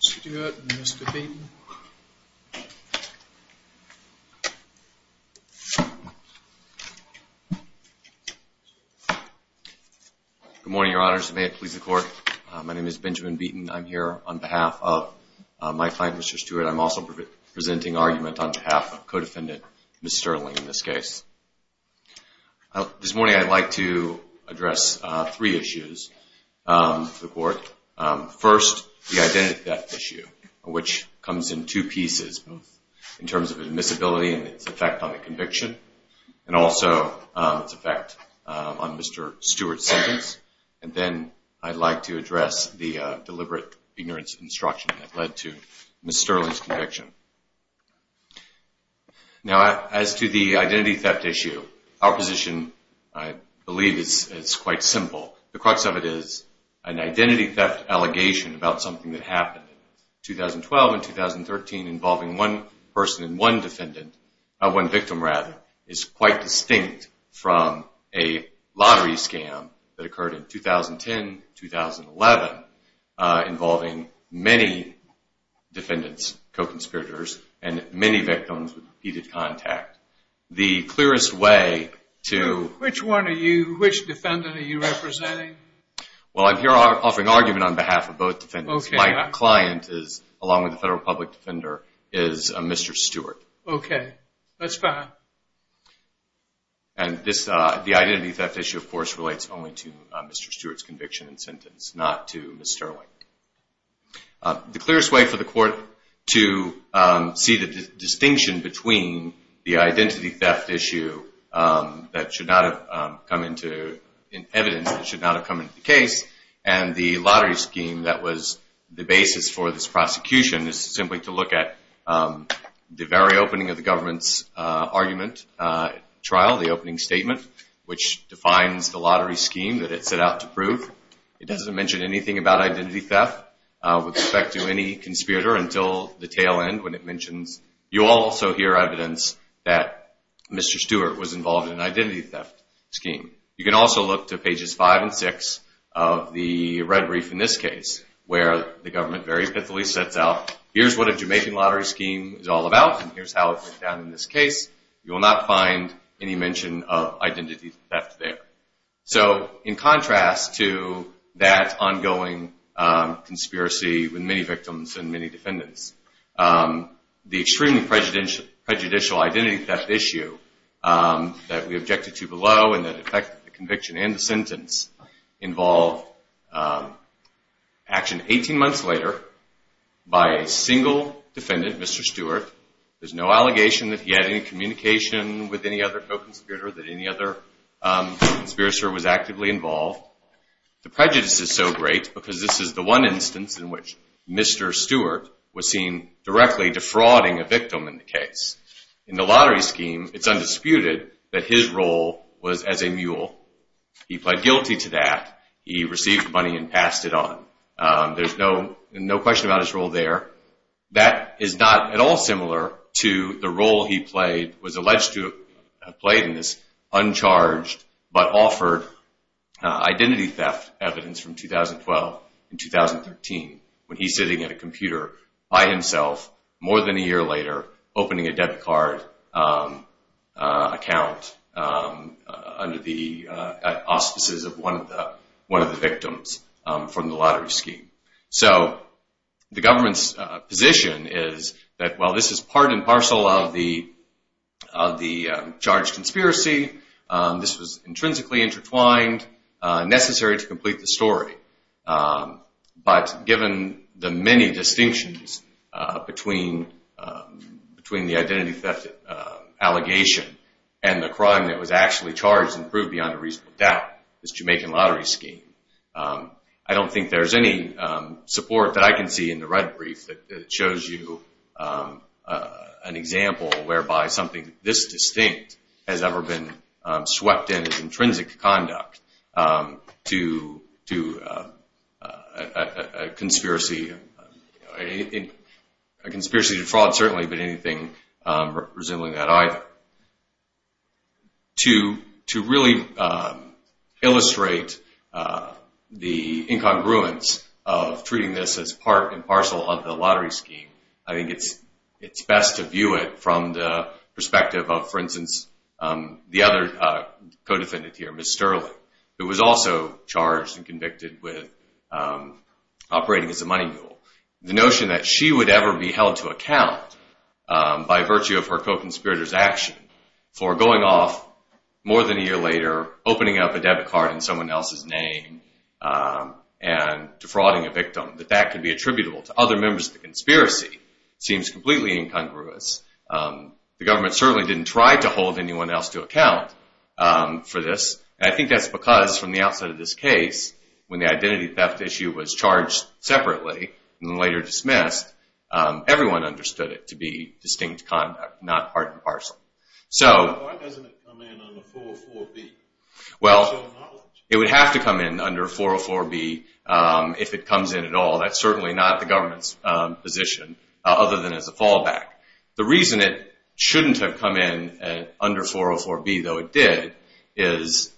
Stuart and Mr. Beaton Good morning, your honors, and may it please the court. My name is Benjamin Beaton. I'm here on behalf of my client, Mr. Stuart. I'm also presenting argument on behalf of co-defendant, Ms. Sterling, in this case. This morning I'd like to address three issues to the court. First, the identity theft issue, which comes in two pieces in terms of admissibility and its effect on the conviction, and also its effect on Mr. Stuart's sentence. And then I'd like to address the deliberate ignorance of instruction that led to Ms. Sterling's conviction. Now as to the identity theft issue, our position, I believe, is quite simple. The an identity theft allegation about something that happened in 2012 and 2013 involving one person and one victim is quite distinct from a lottery scam that occurred in 2010, 2011, involving many defendants, co-conspirators, and many victims with repeated contact. The clearest way to... Which one are you, which defendant are you representing? Well, I'm here offering argument on behalf of both defendants. My client is, along with the federal public defender, is Mr. Stuart. Okay, that's fine. And this, the identity theft issue, of course, relates only to Mr. Stuart's conviction and sentence, not to Ms. Sterling. The clearest way for the court to see the distinction between the identity theft issue that should not have come into evidence, that should not have come into the case, and the lottery scheme that was the basis for this prosecution is simply to look at the very opening of the government's argument trial, the opening statement, which defines the lottery scheme that it set out to prove. It doesn't mention anything about identity theft with respect to any conspirator until the tail end when it mentions... You'll also hear evidence that Mr. Stuart was involved in an identity theft scheme. You can also look to pages five and six of the red brief in this case, where the government very epithelially sets out, here's what a Jamaican lottery scheme is all about and here's how it went down in this conspiracy with many victims and many defendants. The extremely prejudicial identity theft issue that we objected to below and that affected the conviction and the sentence involved action 18 months later by a single defendant, Mr. Stuart. There's no allegation that he had any communication with any other co-conspirator, that any other conspirator was actively involved. The prejudice is so great because this is the one instance in which Mr. Stuart was seen directly defrauding a victim in the case. In the lottery scheme, it's undisputed that his role was as a mule. He pled guilty to that. He received money and passed it on. There's no question about his role there. That is not at all similar to the role he played, was alleged to have played in this uncharged but offered identity theft evidence from 2012 and 2013 when he's sitting at a computer by himself more than a year later opening a debit card account under the auspices of one of the victims from the lottery scheme. The government's position is that while this is part and parcel of the charged conspiracy, this was intrinsically intertwined, necessary to complete the story. But given the many distinctions between the identity theft allegation and the crime that was actually charged and proved beyond a reasonable doubt, this Jamaican lottery scheme, I don't think there's any support that I can see in the red brief that shows you an example whereby something this distinct has ever been swept in as intrinsic conduct to a conspiracy, a conspiracy to fraud certainly, but anything resembling that either. To really illustrate the incongruence of treating this as part and parcel of the lottery scheme, I think it's best to view it from the perspective of, for instance, the other co-defendant here, Miss Sterling, who was also charged and convicted with operating as a money mule. The notion that she would ever be held to account by virtue of her co-conspirator's action for going off more than a year later, opening up a debit card in someone else's name and defrauding a seems completely incongruous. The government certainly didn't try to hold anyone else to account for this. I think that's because from the outset of this case, when the identity theft issue was charged separately and later dismissed, everyone understood it to be distinct conduct, not part and parcel. Why doesn't it come in under 404B? Well, it would have to come in under 404B if it comes in at all. That's certainly not the position, other than as a fallback. The reason it shouldn't have come in under 404B, though it did, is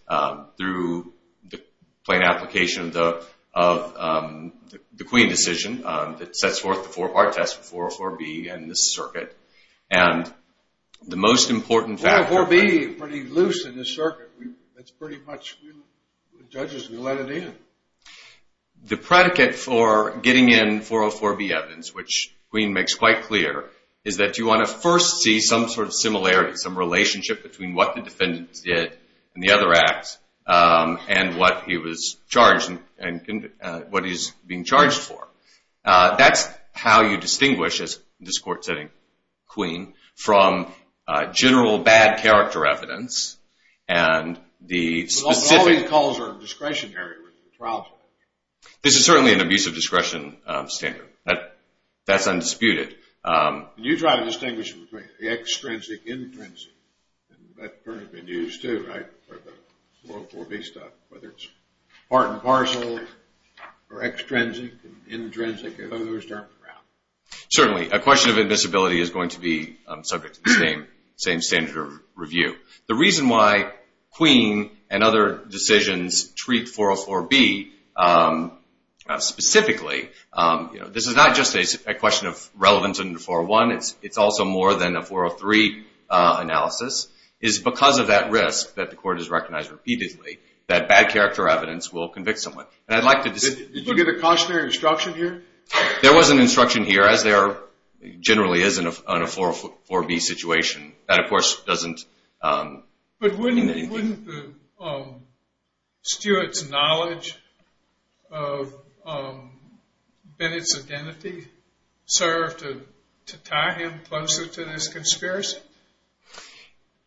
through the plain application of the Queen decision that sets forth the four-part test with 404B and this circuit. And the most important factor... 404B is pretty loose in this circuit. It's pretty much, we're the judges, we let it in. The predicate for getting in 404B evidence, which the Queen makes quite clear, is that you want to first see some sort of similarity, some relationship between what the defendants did and the other acts and what he was charged and what he's being charged for. That's how you distinguish, as this court's saying, Queen, from general bad character evidence and the specific... This is certainly an abuse of discretion standard. That's undisputed. Can you try to distinguish between the extrinsic, intrinsic? And that term has been used too, right, for the 404B stuff, whether it's part and parcel or extrinsic and intrinsic and those terms are out. Certainly. A question of admissibility is going to be subject to the same standard of review. The reason why Queen and other decisions treat 404B specifically, this is not just a question of relevance under 401, it's also more than a 403 analysis, is because of that risk that the court has recognized repeatedly that bad character evidence will convict someone. And I'd like to... Did you get a cautionary instruction here? There was an instruction here, as there generally is in a 404B situation, that of course doesn't... But wouldn't Stuart's knowledge of Bennett's identity serve to tie him closer to this conspiracy?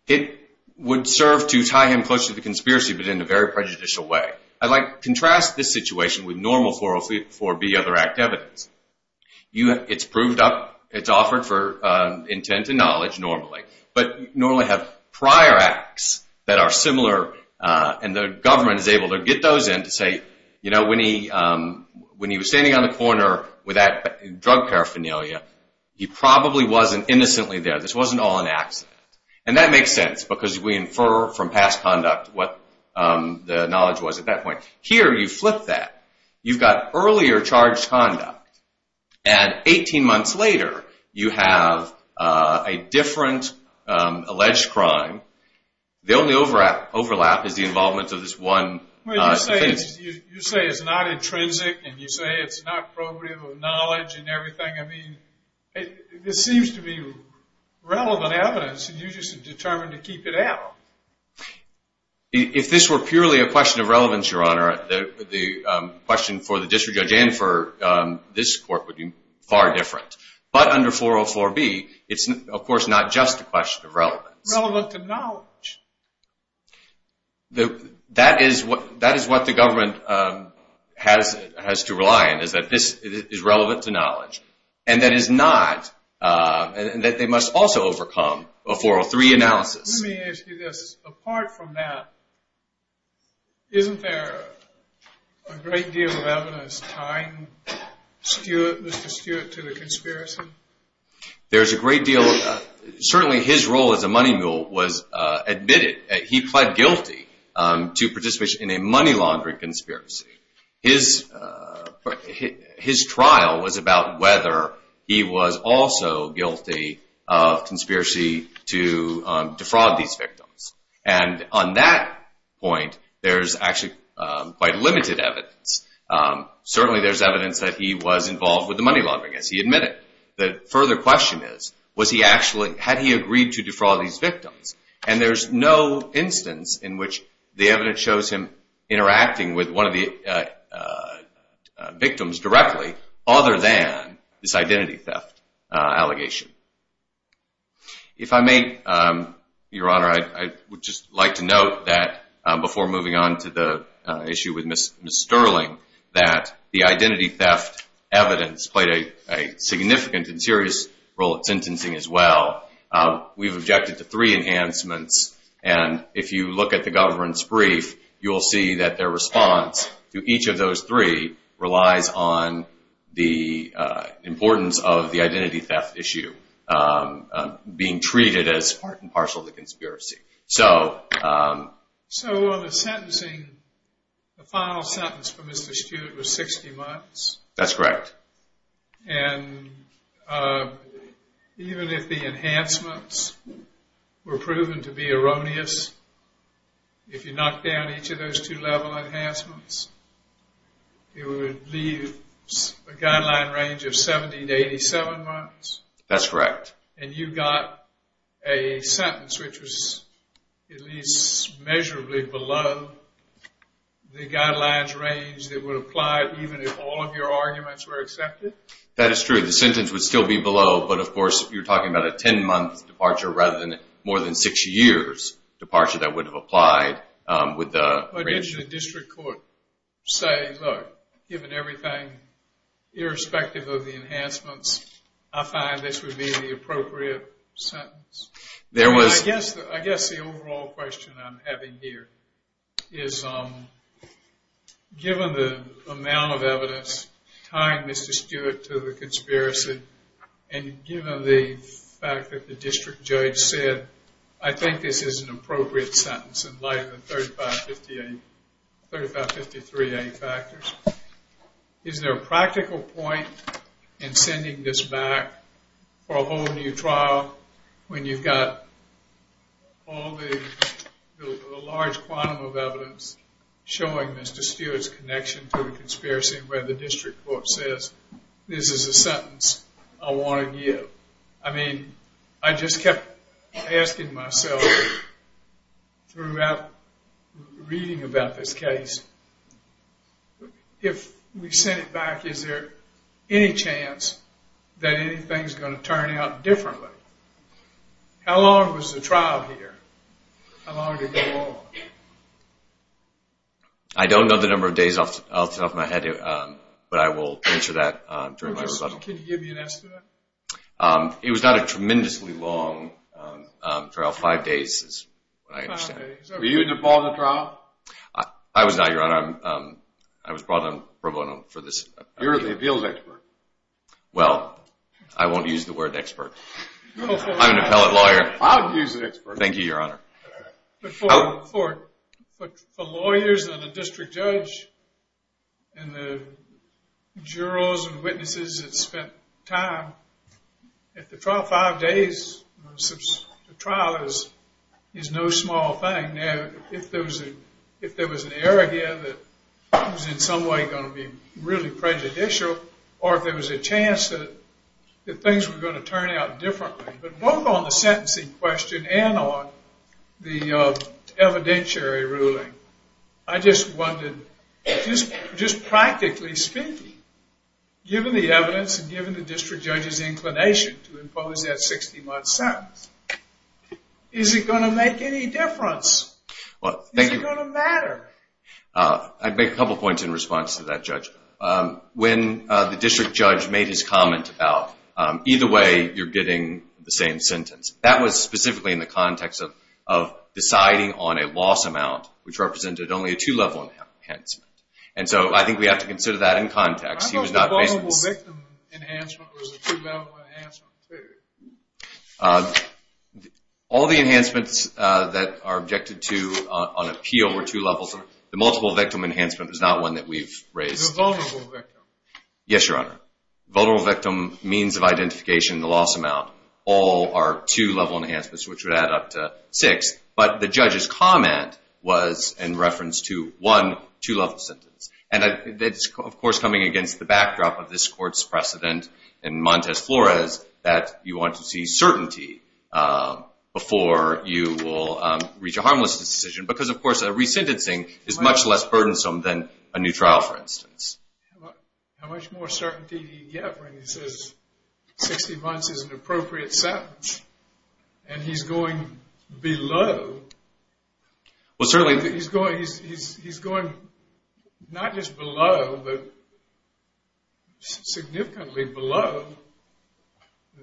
It would serve to tie him closer to the conspiracy, but in a very prejudicial way. I'd like to contrast this situation with normal 404B other act evidence. It's proved up, it's offered for intent and knowledge normally, but normally have prior acts that are similar and the government is able to get those in to say, you know, when he was standing on the corner with that drug paraphernalia, he probably wasn't innocently there. This wasn't all an accident. And that makes sense because we infer from past conduct what the knowledge was at that point. Here, you flip that. You've got earlier charged conduct. And 18 months later, you have a different alleged crime. The only overlap is the involvement of this one... You say it's not intrinsic and you say it's not probative of knowledge and everything. I mean, this seems to be relevant evidence and you're just determined to keep it out. If this were purely a question of relevance, Your Honor, the question for the district judge and for this court would be far different. But under 404B, it's of course not just a question of relevance. Relevant to knowledge. That is what the government has to rely on, is that this is relevant to knowledge. And that is not... And that they must also overcome a 403 analysis. Let me ask you this. Apart from that, isn't there a great deal of evidence tying Mr. Stewart to the conspiracy? There's a great deal. Certainly his role as a money mule was admitted. He pled guilty to participation in a money laundering conspiracy. His trial was about whether he was also guilty of conspiracy to defraud these victims. And on that point, there's actually quite limited evidence. Certainly there's evidence that he was involved with the money laundering as he admitted. The further question is, had he agreed to defraud these victims? And there's no instance in which the evidence shows him interacting with one of the victims directly other than this identity theft allegation. If I may, Your Honor, I would just like to note that before moving on to the issue with Ms. Sterling, that the identity theft evidence played a significant and serious role in sentencing as well. We've objected to three enhancements. And if you look at the government's brief, you'll see that their response to each of those three relies on the importance of the identity theft issue being treated as part and parcel of the conspiracy. So on the sentencing, the final sentence for Mr. Stewart was 60 months? That's correct. And even if the enhancements were proven to be erroneous, if you knocked down each of those two level enhancements, it would leave a guideline range of 70 to 87 months? That's correct. And you got a sentence which was at least measurably below the guidelines range that even if all of your arguments were accepted? That is true. The sentence would still be below. But of course, you're talking about a 10-month departure rather than more than six years departure that would have applied with the original district court. Say, look, given everything, irrespective of the enhancements, I find this would be the appropriate sentence. I guess the overall question I'm having here is, given the amount of evidence tying Mr. Stewart to the conspiracy, and given the fact that the district judge said, I think this is an appropriate sentence in light of the 3553A factors, is there a practical point in sending this back for a whole new trial when you've got all the large quantum of evidence showing Mr. Stewart's connection to the conspiracy where the district court says, this is a sentence I want to give? I mean, I just kept asking myself throughout reading about this case, if we sent it back, is there any chance that anything's going to turn out differently? How long was the trial here? How long did it go on? I don't know the number of days off my head, but I will answer that during my rebuttal. Can you give me an estimate? It was not a tremendously long trial. Five days is what I understand. Were you involved in the trial? I was not, Your Honor. I was brought on pro bono for this. You're the appeals expert. Well, I won't use the word expert. I'm an appellate lawyer. I'll use expert. Thank you, Your Honor. For lawyers and a district judge and the jurors and witnesses that spent time at the trial, five days since the trial is no small thing. Now, if there was an error here that was in some way going to be really prejudicial, or if there was a chance that things were going to turn out differently, but both on the sentencing question and on the evidentiary ruling, I just wondered, just practically speaking, given the evidence and given the district judge's inclination to impose that 60-month sentence, is it going to make any difference? Is it going to matter? I'd make a couple points in response to that, Judge. When the district judge made his comment about, either way, you're getting the same sentence, that was specifically in the context of deciding on a loss amount, which represented only a two-level enhancement. I think we have to consider that in context. I thought the vulnerable victim enhancement was a two-level enhancement, too. All the enhancements that are objected to on appeal were two levels. The multiple victim enhancement is not one that we've raised. The vulnerable victim. Yes, Your Honor. Vulnerable victim, means of identification, the loss amount, all are two-level enhancements, which would add up to six. But the judge's comment was in reference to, one, two-level sentence. And that's, of course, coming against the backdrop of this Court's precedent in Montes Flores, that you want to see certainty before you will reach a harmless decision. Because, of course, a resentencing is much less burdensome than a new trial, for instance. How much more certainty do you get when he says 60 months is an appropriate sentence? And he's going below. Well, certainly. He's going not just below, but significantly below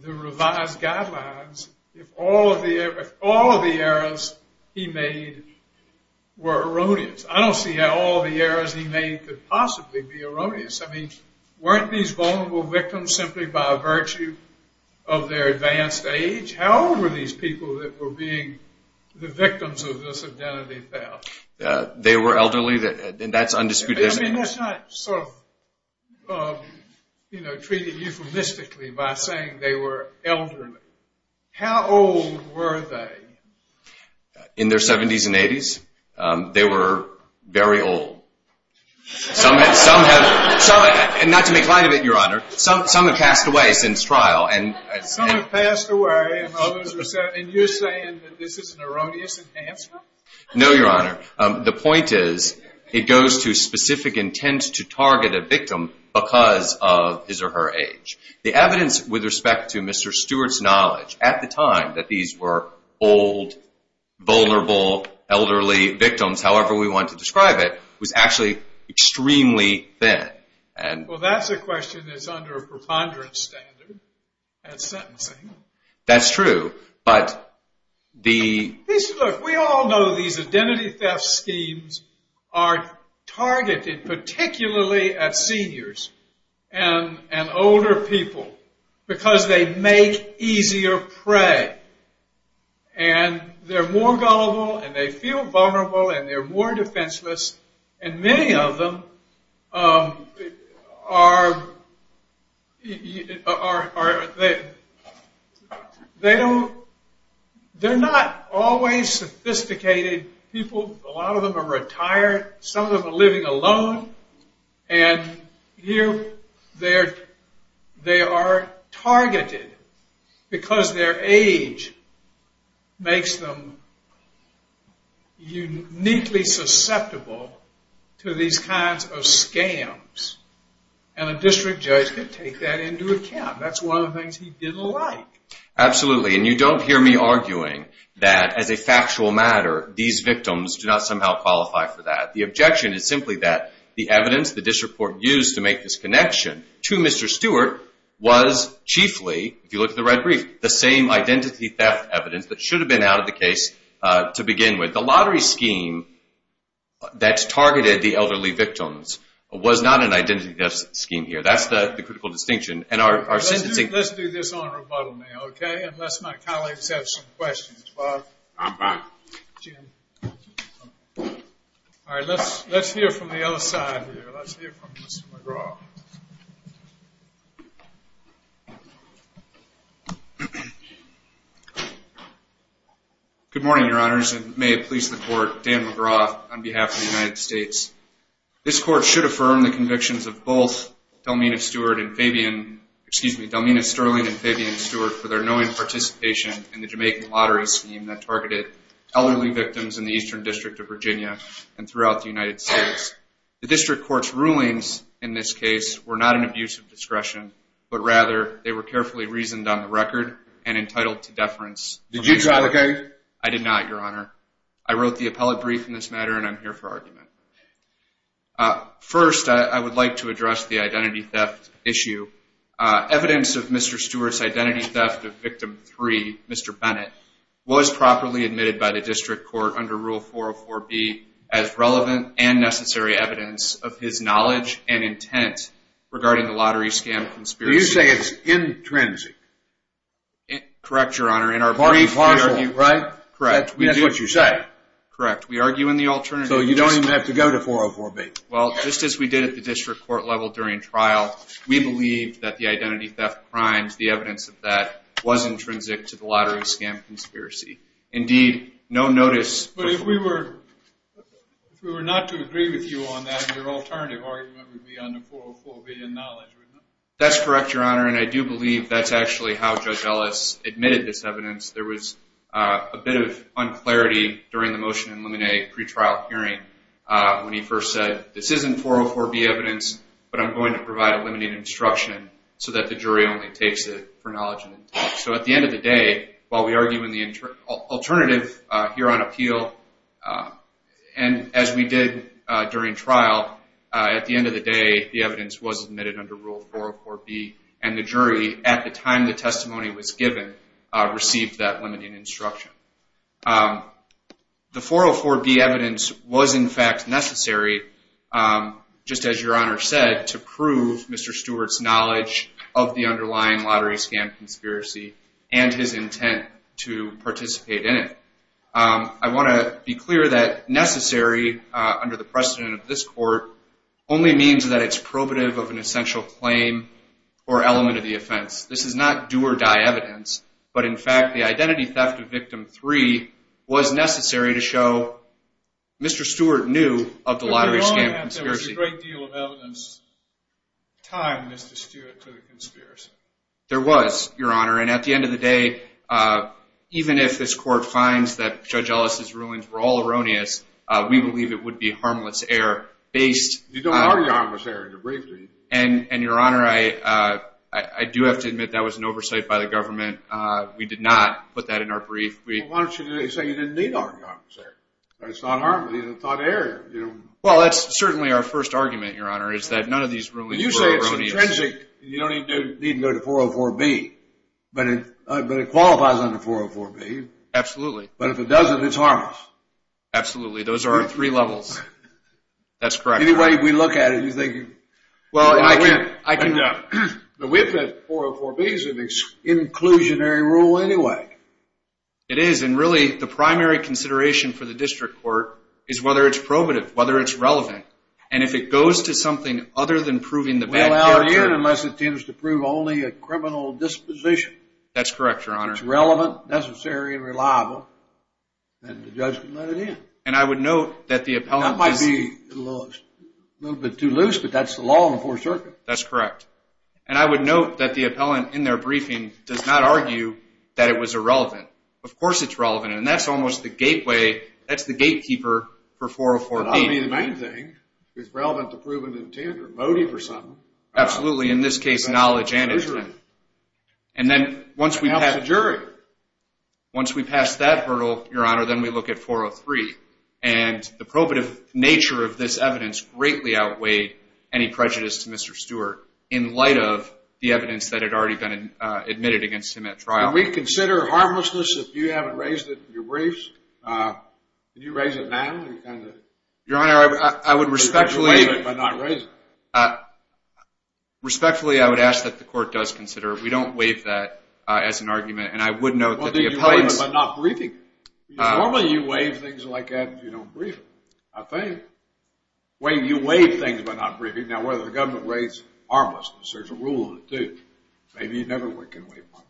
the revised guidelines, if all of the errors he made were erroneous. I don't see how all the errors he made could possibly be erroneous. I mean, weren't these vulnerable victims simply by virtue of their advanced age? How old were these people that were being the victims of this identity theft? They were elderly, and that's undisputed. I mean, that's not sort of, you know, treated euphemistically by saying they were elderly. How old were they? In their 70s and 80s. They were very old. Some have, not to make light of it, Your Honor, some have passed away since trial. Some have passed away, and you're saying that this is an erroneous enhancement? No, Your Honor. The point is, it goes to specific intent to target a victim because of his or her age. The evidence with respect to Mr. Stewart's knowledge at the time that these were old, however we want to describe it, was actually extremely thin. Well, that's a question that's under a preponderance standard at sentencing. That's true. We all know these identity theft schemes are targeted particularly at seniors and older people because they make easier prey. And they're more gullible, and they feel vulnerable, and they're more defenseless. And many of them are, they don't, they're not always sophisticated people. A lot of them are retired. Some of them are living alone. And here, they are targeted because their age makes them uniquely susceptible to these kinds of scams. And a district judge can take that into account. That's one of the things he didn't like. Absolutely. And you don't hear me arguing that as a factual matter, these victims do not somehow qualify for that. The objection is simply that the evidence the district court used to make this connection to Mr. Stewart was chiefly, if you look at the red brief, the same identity theft evidence that should have been out of the case to begin with. The lottery scheme that's targeted the elderly victims was not an identity theft scheme here. That's the critical distinction. And our sentencing... Let's do this on rebuttal now, okay? Unless my colleagues have some questions. Bob, Jim. All right. Let's hear from the other side here. Let's hear from Mr. McGraw. Good morning, Your Honors. And may it please the court, Dan McGraw on behalf of the United States. This court should affirm the convictions of both Delmena Sterling and Fabian Stewart for their knowing participation in the Jamaican lottery scheme that targeted elderly victims in the Eastern District of Virginia and throughout the United States. The district court's rulings in this case were not an abuse of discretion, but rather they were carefully reasoned on the record and entitled to deference. Did you try to... I did not, Your Honor. I wrote the appellate brief in this matter and I'm here for argument. First, I would like to address the identity theft issue. Evidence of Mr. Stewart's identity theft of victim three, Mr. Bennett, was properly admitted by the district court under Rule 404B as relevant and necessary evidence of his knowledge and intent regarding the lottery scam conspiracy. You say it's intrinsic? In our brief, we argue... Part and parcel, right? Correct. That's what you say. Correct. We argue in the alternative... So you don't even have to go to 404B. Well, just as we did at the district court level during trial, we believe that the identity theft crimes, the evidence of that was intrinsic to the lottery scam conspiracy. Indeed, no notice... But if we were not to agree with you on that, your alternative argument would be under 404B in knowledge, would it not? That's correct, Your Honor, and I do believe that's actually how Judge Ellis admitted this evidence. There was a bit of unclarity during the motion in Lemonet pre-trial hearing when he first said, this isn't 404B evidence, but I'm going to provide a limiting instruction so that the jury only takes it for knowledge and intent. So at the end of the day, while we argue in the alternative here on appeal, and as we did during trial, at the end of the day, the evidence was admitted under Rule 404B, and the jury, at the time the testimony was given, received that limiting instruction. The 404B evidence was, in fact, necessary, just as Your Honor said, to prove Mr. Stewart's knowledge of the underlying lottery scam conspiracy and his intent to participate in it. I want to be clear that necessary under the precedent of this court only means that it's probative of an essential claim or element of the offense. This is not do-or-die evidence, but in fact, the identity theft of victim three was necessary to show Mr. Stewart knew of the lottery scam conspiracy. There was a great deal of evidence tying Mr. Stewart to the conspiracy. There was, Your Honor, and at the end of the day, even if this court finds that Judge Ellis's rulings were all erroneous, we believe it would be harmless error based... You don't argue harmless error in the brief, do you? And Your Honor, I do have to admit that was an oversight by the government. We did not put that in our brief. Well, why don't you say you didn't need to argue harmless error? It's not harmless. It's a thought error, you know. Well, that's certainly our first argument, Your Honor, is that none of these rulings were erroneous. You say it's intrinsic. You don't even need to go to 404B, but it qualifies under 404B. Absolutely. But if it doesn't, it's harmless. Absolutely. Those are three levels. That's correct. Anyway, we look at it, you think... Well, I can... No. But we admit 404B is an inclusionary rule anyway. It is. And really, the primary consideration for the district court is whether it's probative, whether it's relevant. And if it goes to something other than proving the bad character... We'll allow it in unless it tends to prove only a criminal disposition. That's correct, Your Honor. It's relevant, necessary, and reliable. And the judge can let it in. And I would note that the appellant... That might be a little bit too loose, but that's the law in the Fourth Circuit. That's correct. And I would note that the appellant in their briefing does not argue that it was irrelevant. Of course, it's relevant. And that's almost the gateway. That's the gatekeeper for 404B. But I mean, the main thing is relevant to proven intent or motive or something. Absolutely. In this case, knowledge and intent. And then once we have... That helps the jury. Once we pass that hurdle, Your Honor, then we look at 403. And the probative nature of this evidence greatly outweighed any prejudice to Mr. Stewart in light of the evidence that had already been admitted against him at trial. Can we consider harmlessness if you haven't raised it in your briefs? Can you raise it now? Your Honor, I would respectfully... Respectfully, I would ask that the court does consider it. We don't waive that as an argument. And I would note that the appellant... You waive it by not briefing. Normally, you waive things like that if you don't brief them, I think. You waive things by not briefing. Now, whether the government waives harmlessness, there's a rule in it, too. Maybe you never can waive one.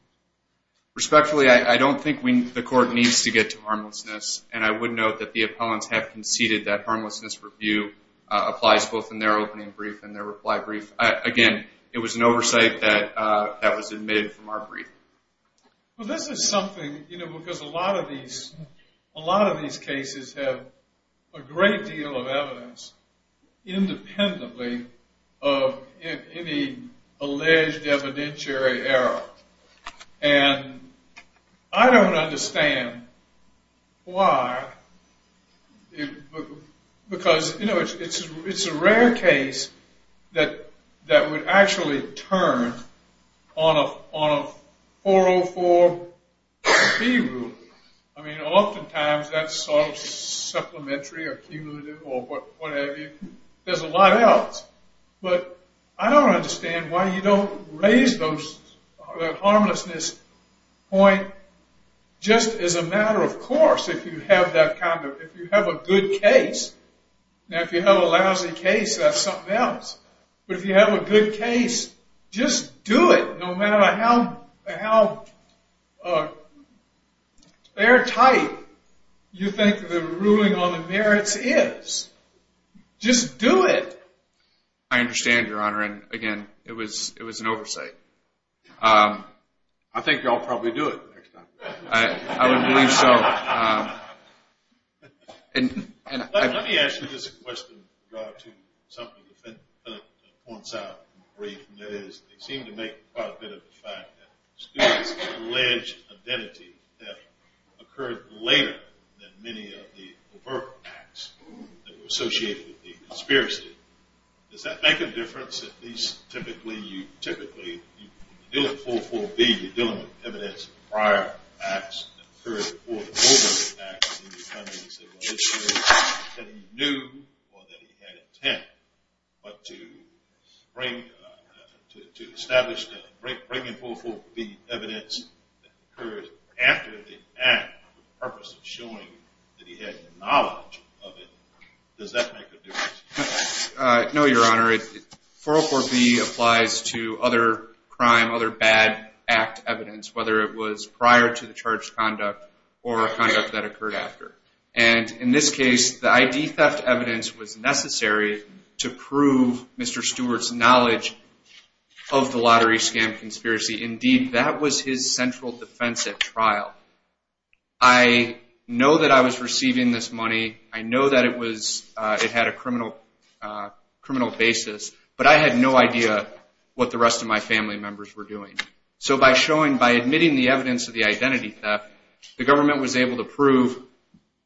Respectfully, I don't think the court needs to get to harmlessness. And I would note that the appellants have conceded that harmlessness review applies both in their opening brief and their reply brief. Again, it was an oversight that was admitted from our brief. Well, this is something... You know, because a lot of these cases have a great deal of evidence independently of any alleged evidentiary error. And I don't understand why... Because, you know, it's a rare case that would actually turn on a 404-B rule. I mean, oftentimes, that's sort of supplementary or cumulative or whatever. There's a lot else. But I don't understand why you don't raise that harmlessness point just as a matter of course, if you have that kind of... If you have a good case. Now, if you have a lousy case, that's something else. But if you have a good case, just do it, no matter how airtight you think the ruling on the merits is. Just do it. I understand, Your Honor. And again, it was an oversight. I think you'll probably do it next time. I would believe so. Let me ask you this question to draw to something that Philip points out in the brief. And that is, they seem to make quite a bit of the fact that students' alleged identity have occurred later than many of the overt acts that were associated with the conspiracy. Does that make a difference? At least, typically, you deal with 4.4.B. You're dealing with evidence of prior acts that occurred before the overt acts. And you kind of said, well, it's true that he knew or that he had intent. But to establish that, bring in 4.4.B evidence that occurred after the act for the purpose of showing that he had knowledge of it, does that make a difference? No, Your Honor. 4.4.B applies to other crime, other bad act evidence, whether it was prior to the charged conduct or a conduct that occurred after. And in this case, the ID theft evidence was necessary to prove Mr. Stewart's knowledge of the lottery scam conspiracy. Indeed, that was his central defense at trial. I know that I was receiving this money. I know that it had a criminal basis. But I had no idea what the rest of my family members were doing. So by admitting the evidence of the identity theft, the government was able to prove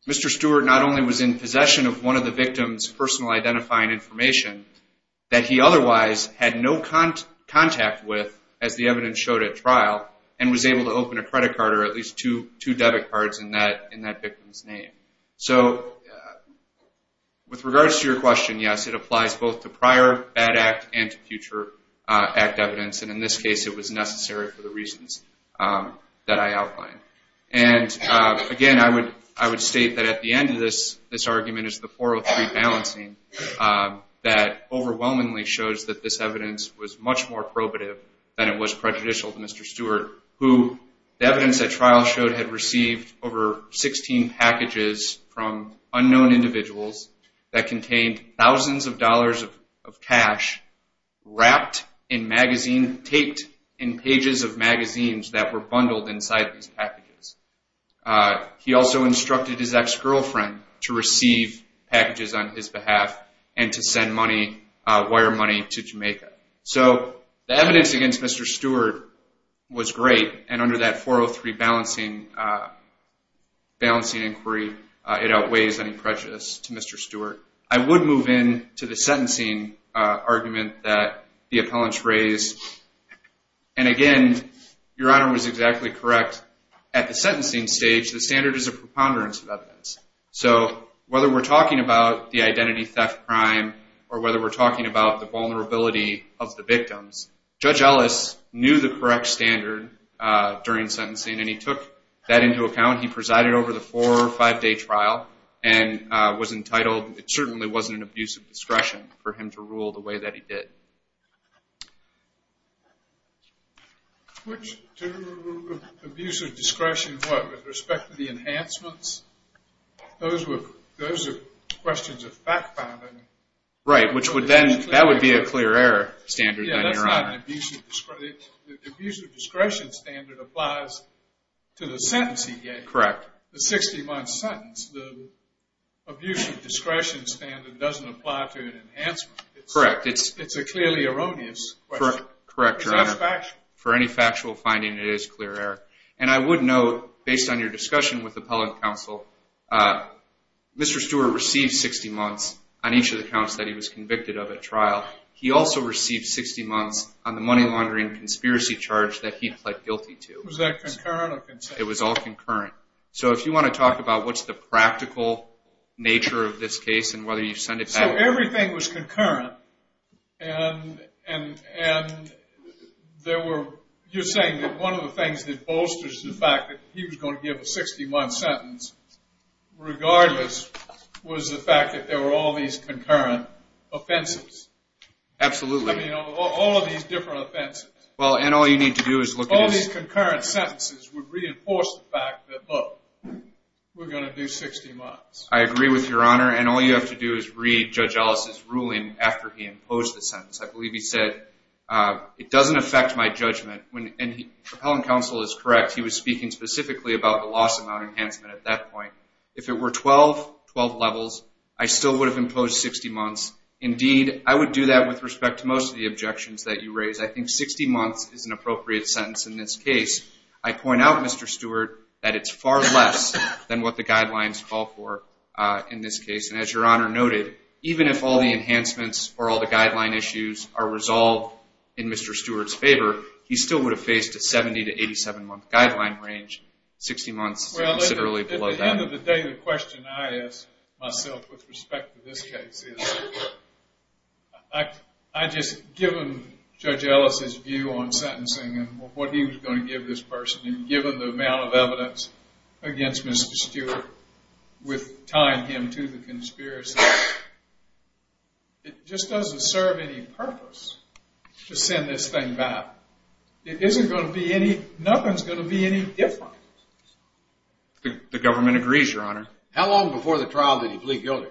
Mr. Stewart not only was in possession of one of the victim's personal identifying information that he otherwise had no contact with, as the evidence showed at trial, and was able to open a credit card or at least two debit cards in that victim's name. So with regards to your question, yes, it applies both to prior bad act and to future act evidence. And in this case, it was necessary for the reasons that I outlined. And again, I would state that at the end of this, this argument is the 403 balancing that overwhelmingly shows that this evidence was much more probative than it was prejudicial to Mr. Stewart, who the evidence at trial showed had received over 16 packages from unknown individuals that contained thousands of dollars of cash wrapped in magazine, taped in pages of magazines that were bundled inside these packages. He also instructed his ex-girlfriend to receive packages on his behalf and to send money, wire money to Jamaica. So the evidence against Mr. Stewart was great. And under that 403 balancing inquiry, it outweighs any prejudice to Mr. Stewart. I would move in to the sentencing argument that the appellants raised. And again, Your Honor was exactly correct. At the sentencing stage, the standard is a preponderance of evidence. So whether we're talking about the identity theft crime or whether we're talking about the vulnerability of the victims, Judge Ellis knew the correct standard during sentencing. And he took that into account. He presided over the four or five-day trial and was entitled. It certainly wasn't an abuse of discretion for him to rule the way that he did. Which to abuse of discretion, what, with respect to the enhancements? Those are questions of fact-finding. Right, which would then, that would be a clear error standard. Yeah, that's not an abuse of discretion. The abuse of discretion standard applies to the sentence he gets. Correct. The 60-month sentence. The abuse of discretion standard doesn't apply to an enhancement. Correct. It's a clearly erroneous question. Correct, Your Honor. For any factual finding, it is clear error. And I would note, based on your discussion with appellant counsel, Mr. Stewart received 60 months on each of the counts that he was convicted of at trial. He also received 60 months on the money laundering conspiracy charge that he pled guilty to. Was that concurrent or consistent? It was all concurrent. So if you want to talk about what's the practical nature of this case and whether you send it back. So everything was concurrent and there were, you're saying that one of the things that bolsters the fact that he was going to give a 60-month sentence regardless was the fact that there were all these concurrent offenses. Absolutely. I mean, all of these different offenses. Well, and all you need to do is look at this. All these concurrent sentences would reinforce the fact that, look, we're going to do 60 months. I agree with Your Honor. And all you have to do is read Judge Ellis's ruling after he imposed the sentence. I believe he said, it doesn't affect my judgment. And appellant counsel is correct. He was speaking specifically about the loss amount enhancement at that point. If it were 12, 12 levels, I still would have imposed 60 months. Indeed, I would do that with respect to most of the objections that you raise. I think 60 months is an appropriate sentence in this case. I point out, Mr. Stewart, that it's far less than what the guidelines call for in this case. And as Your Honor noted, even if all the enhancements or all the guideline issues are range, 60 months is considerably below that. Well, at the end of the day, the question I ask myself with respect to this case is, I just, given Judge Ellis's view on sentencing and what he was going to give this person, and given the amount of evidence against Mr. Stewart with tying him to the conspiracy, it just doesn't serve any purpose to send this thing back. It isn't going to be any, nothing's going to be any different. The government agrees, Your Honor. How long before the trial did he plead guilty?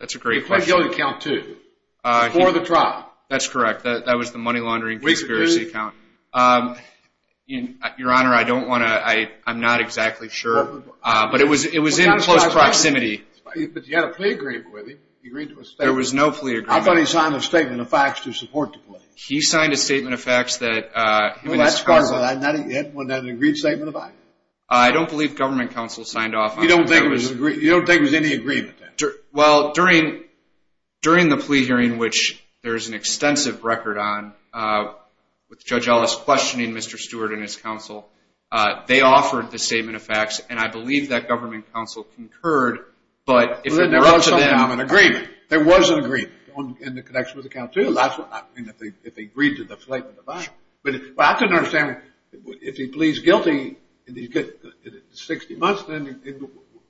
That's a great question. He pleaded guilty count two, before the trial. That's correct. That was the money laundering conspiracy count. Your Honor, I don't want to, I'm not exactly sure. But it was in close proximity. But you had a plea agreement with him. He agreed to a statement. There was no plea agreement. I thought he signed a statement of facts to support the plea. He signed a statement of facts that, uh, Well, that's part of it. I'm not, you hadn't, wasn't that an agreed statement of facts? I don't believe government counsel signed off on that. You don't think it was an agree, you don't think it was any agreement then? Well, during, during the plea hearing, which there's an extensive record on, with Judge Ellis questioning Mr. Stewart and his counsel, they offered the statement of facts. And I believe that government counsel concurred. But if it were up to them, There was an agreement. There was an agreement in the connection with the count two. That's what, I mean, if they agreed to the statement of facts. But I couldn't understand, if he pleads guilty and he's got 60 months, then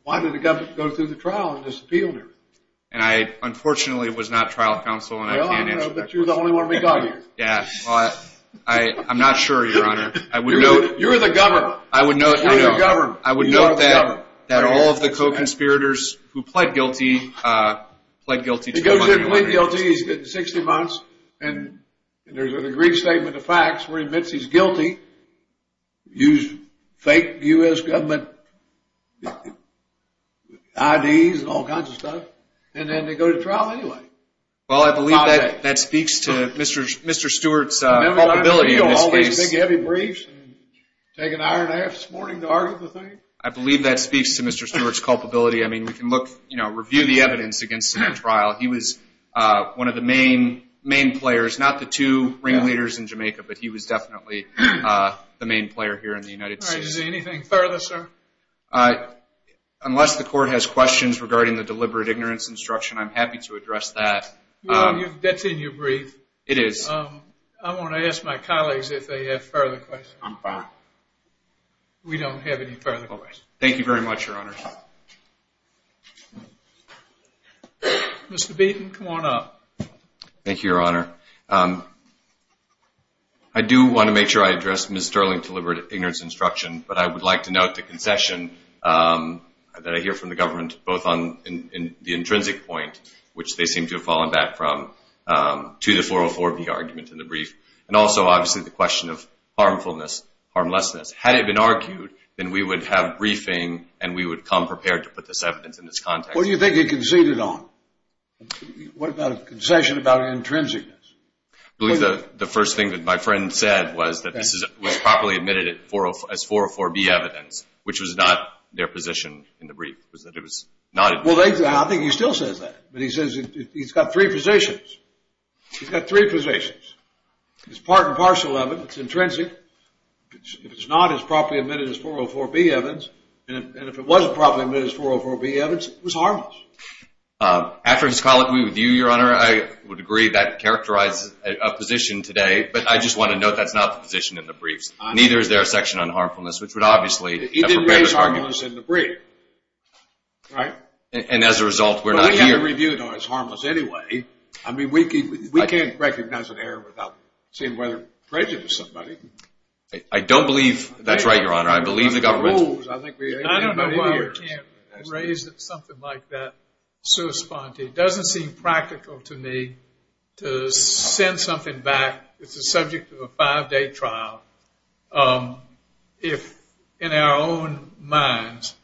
why did the government go through the trial and disappeal him? And I, unfortunately, was not trial counsel. And I can't answer that question. But you're the only one we got here. Yeah, well, I, I'm not sure, Your Honor. I would note, You're the governor. I would note, You're the governor. I would note that, that all of the co-conspirators who pled guilty, uh, pled guilty to the money laundering. Pled guilty, he's got 60 months. And there's an agreed statement of facts where he admits he's guilty. Used fake U.S. government IDs and all kinds of stuff. And then they go to trial anyway. Well, I believe that, that speaks to Mr., Mr. Stewart's, uh, culpability in this case. Remember what I told you, all these big heavy briefs. Take an hour and a half this morning to argue the thing. I believe that speaks to Mr. Stewart's culpability. I mean, we can look, you know, review the evidence against him at trial. He was, uh, one of the main, main players, not the two ringleaders in Jamaica, but he was definitely, uh, the main player here in the United States. All right. Is there anything further, sir? Uh, unless the court has questions regarding the deliberate ignorance instruction, I'm happy to address that. That's in your brief. It is. I want to ask my colleagues if they have further questions. I'm fine. We don't have any further questions. Thank you very much, Your Honor. Mr. Beaton, come on up. Thank you, Your Honor. Um, I do want to make sure I address Ms. Sterling's deliberate ignorance instruction, but I would like to note the concession, um, that I hear from the government, both on, in, in the intrinsic point, which they seem to have fallen back from, um, to the 404B argument in the brief, and also, obviously, the question of harmfulness, harmlessness. prepared to put this evidence in this context. What do you think he conceded on? What about a concession about intrinsicness? I believe the, the first thing that my friend said was that this is, was properly admitted at 404, as 404B evidence, which was not their position in the brief, was that it was not. Well, they, I think he still says that, but he says he's got three positions. He's got three positions. It's part and parcel of it. It's intrinsic. If it's not, it's properly admitted as 404B evidence. And if it wasn't properly admitted as 404B evidence, it was harmless. Um, after his colloquy with you, your honor, I would agree that characterizes a position today, but I just want to note that's not the position in the briefs. Neither is there a section on harmfulness, which would obviously have prepared his argument. He didn't raise harmlessness in the brief. Right. And as a result, we're not here. But he had it reviewed on as harmless anyway. I mean, we can't, we can't recognize an error without seeing whether it prejudice somebody. I don't believe, that's right, your honor. I don't know why we can't raise something like that. It doesn't seem practical to me to send something back. It's a subject of a five-day trial. If in our own minds,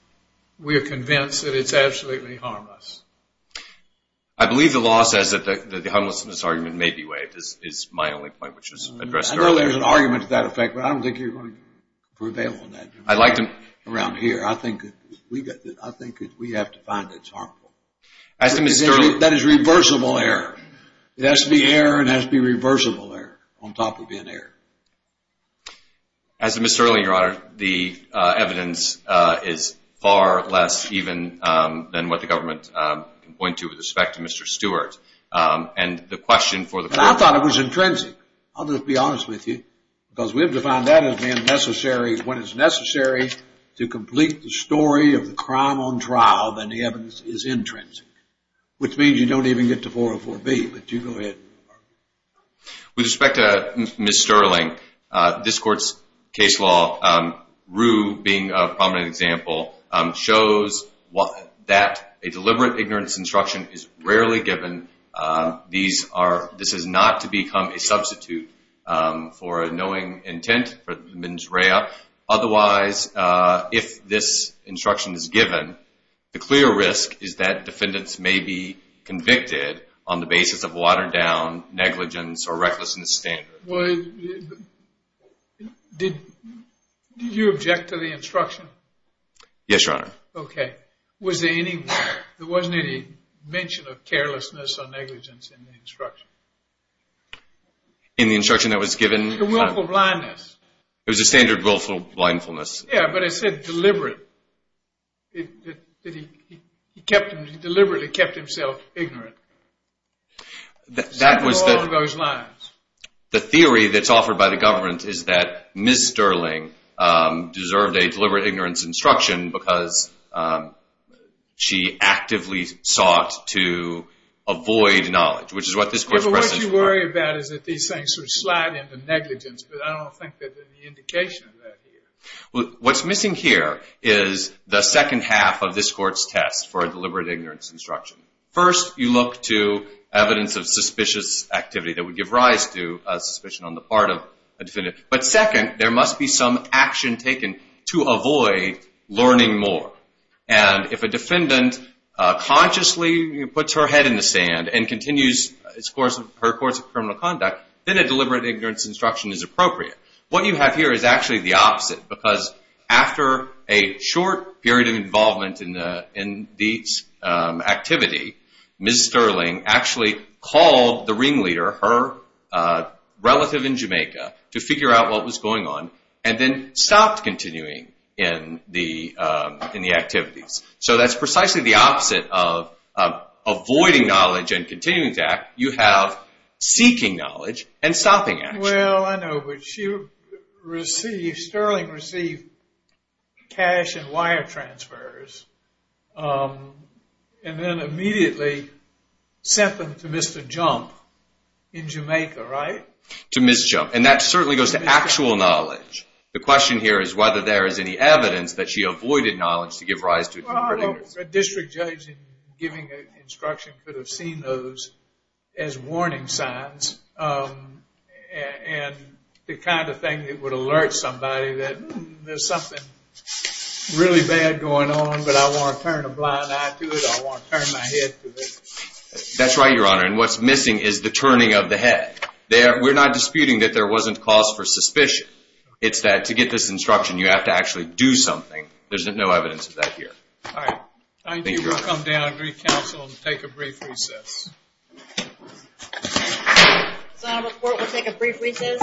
we are convinced that it's absolutely harmless. I believe the law says that the harmlessness argument may be waived, is my only point, which was addressed earlier. I know there's an argument to that effect, but I don't think you're going to prevail on that around here. I think that we have to find that it's harmful. That is reversible error. It has to be error, and it has to be reversible error, on top of being error. As to Ms. Sterling, your honor, the evidence is far less even than what the government can point to with respect to Mr. Stewart. And the question for the court... I thought it was intrinsic. I'll just be honest with you. Because we have to find that when it's necessary to complete the story of the crime on trial, then the evidence is intrinsic. Which means you don't even get to 404B. But you go ahead. With respect to Ms. Sterling, this court's case law, Rue being a prominent example, shows that a deliberate ignorance instruction is rarely given. These are... This is not to become a substitute for a knowing intent for the mens rea. Otherwise, if this instruction is given, the clear risk is that defendants may be convicted on the basis of watered-down negligence or recklessness standard. Well, did you object to the instruction? Yes, your honor. Okay. Was there any... There wasn't any mention of carelessness or negligence in the instruction? In the instruction that was given? The willful blindness. It was a standard willful blindness. Yeah, but it said deliberate. He kept... He deliberately kept himself ignorant. That was the... All of those lines. The theory that's offered by the government is that Ms. Sterling deserved a deliberate ignorance instruction because she actively sought to avoid knowledge, which is what this court's precedent requires. But what you worry about is that these things sort of slide into negligence, but I don't think that there's any indication of that here. Well, what's missing here is the second half of this court's test for a deliberate ignorance instruction. First, you look to evidence of suspicious activity that would give rise to a suspicion on the part of a defendant. But second, there must be some action taken to avoid learning more. And if a defendant consciously puts her head in the sand and continues her course of criminal conduct, then a deliberate ignorance instruction is appropriate. What you have here is actually the opposite because after a short period of involvement in these activity, Ms. Sterling actually called the ringleader, her relative in Jamaica, to figure out what was going on and then stopped continuing in the activities. So that's precisely the opposite of avoiding knowledge and continuing to act. You have seeking knowledge and stopping action. Well, I know. Sterling received cash and wire transfers and then immediately sent them to Mr. Jump in Jamaica, right? To Ms. Jump. And that certainly goes to actual knowledge. The question here is whether there is any evidence that she avoided knowledge to give rise to a deliberate ignorance. A district judge in giving an instruction could have seen those as warning signs and the kind of thing that would alert somebody that there's something really bad going on, but I want to turn a blind eye to it. I want to turn my head to it. That's right, Your Honor. And what's missing is the turning of the head. We're not disputing that there wasn't cause for suspicion. It's that to get this instruction, you have to actually do something. There's no evidence of that here. All right. I think we'll come down and recounsel and take a brief recess. Senate report will take a brief recess.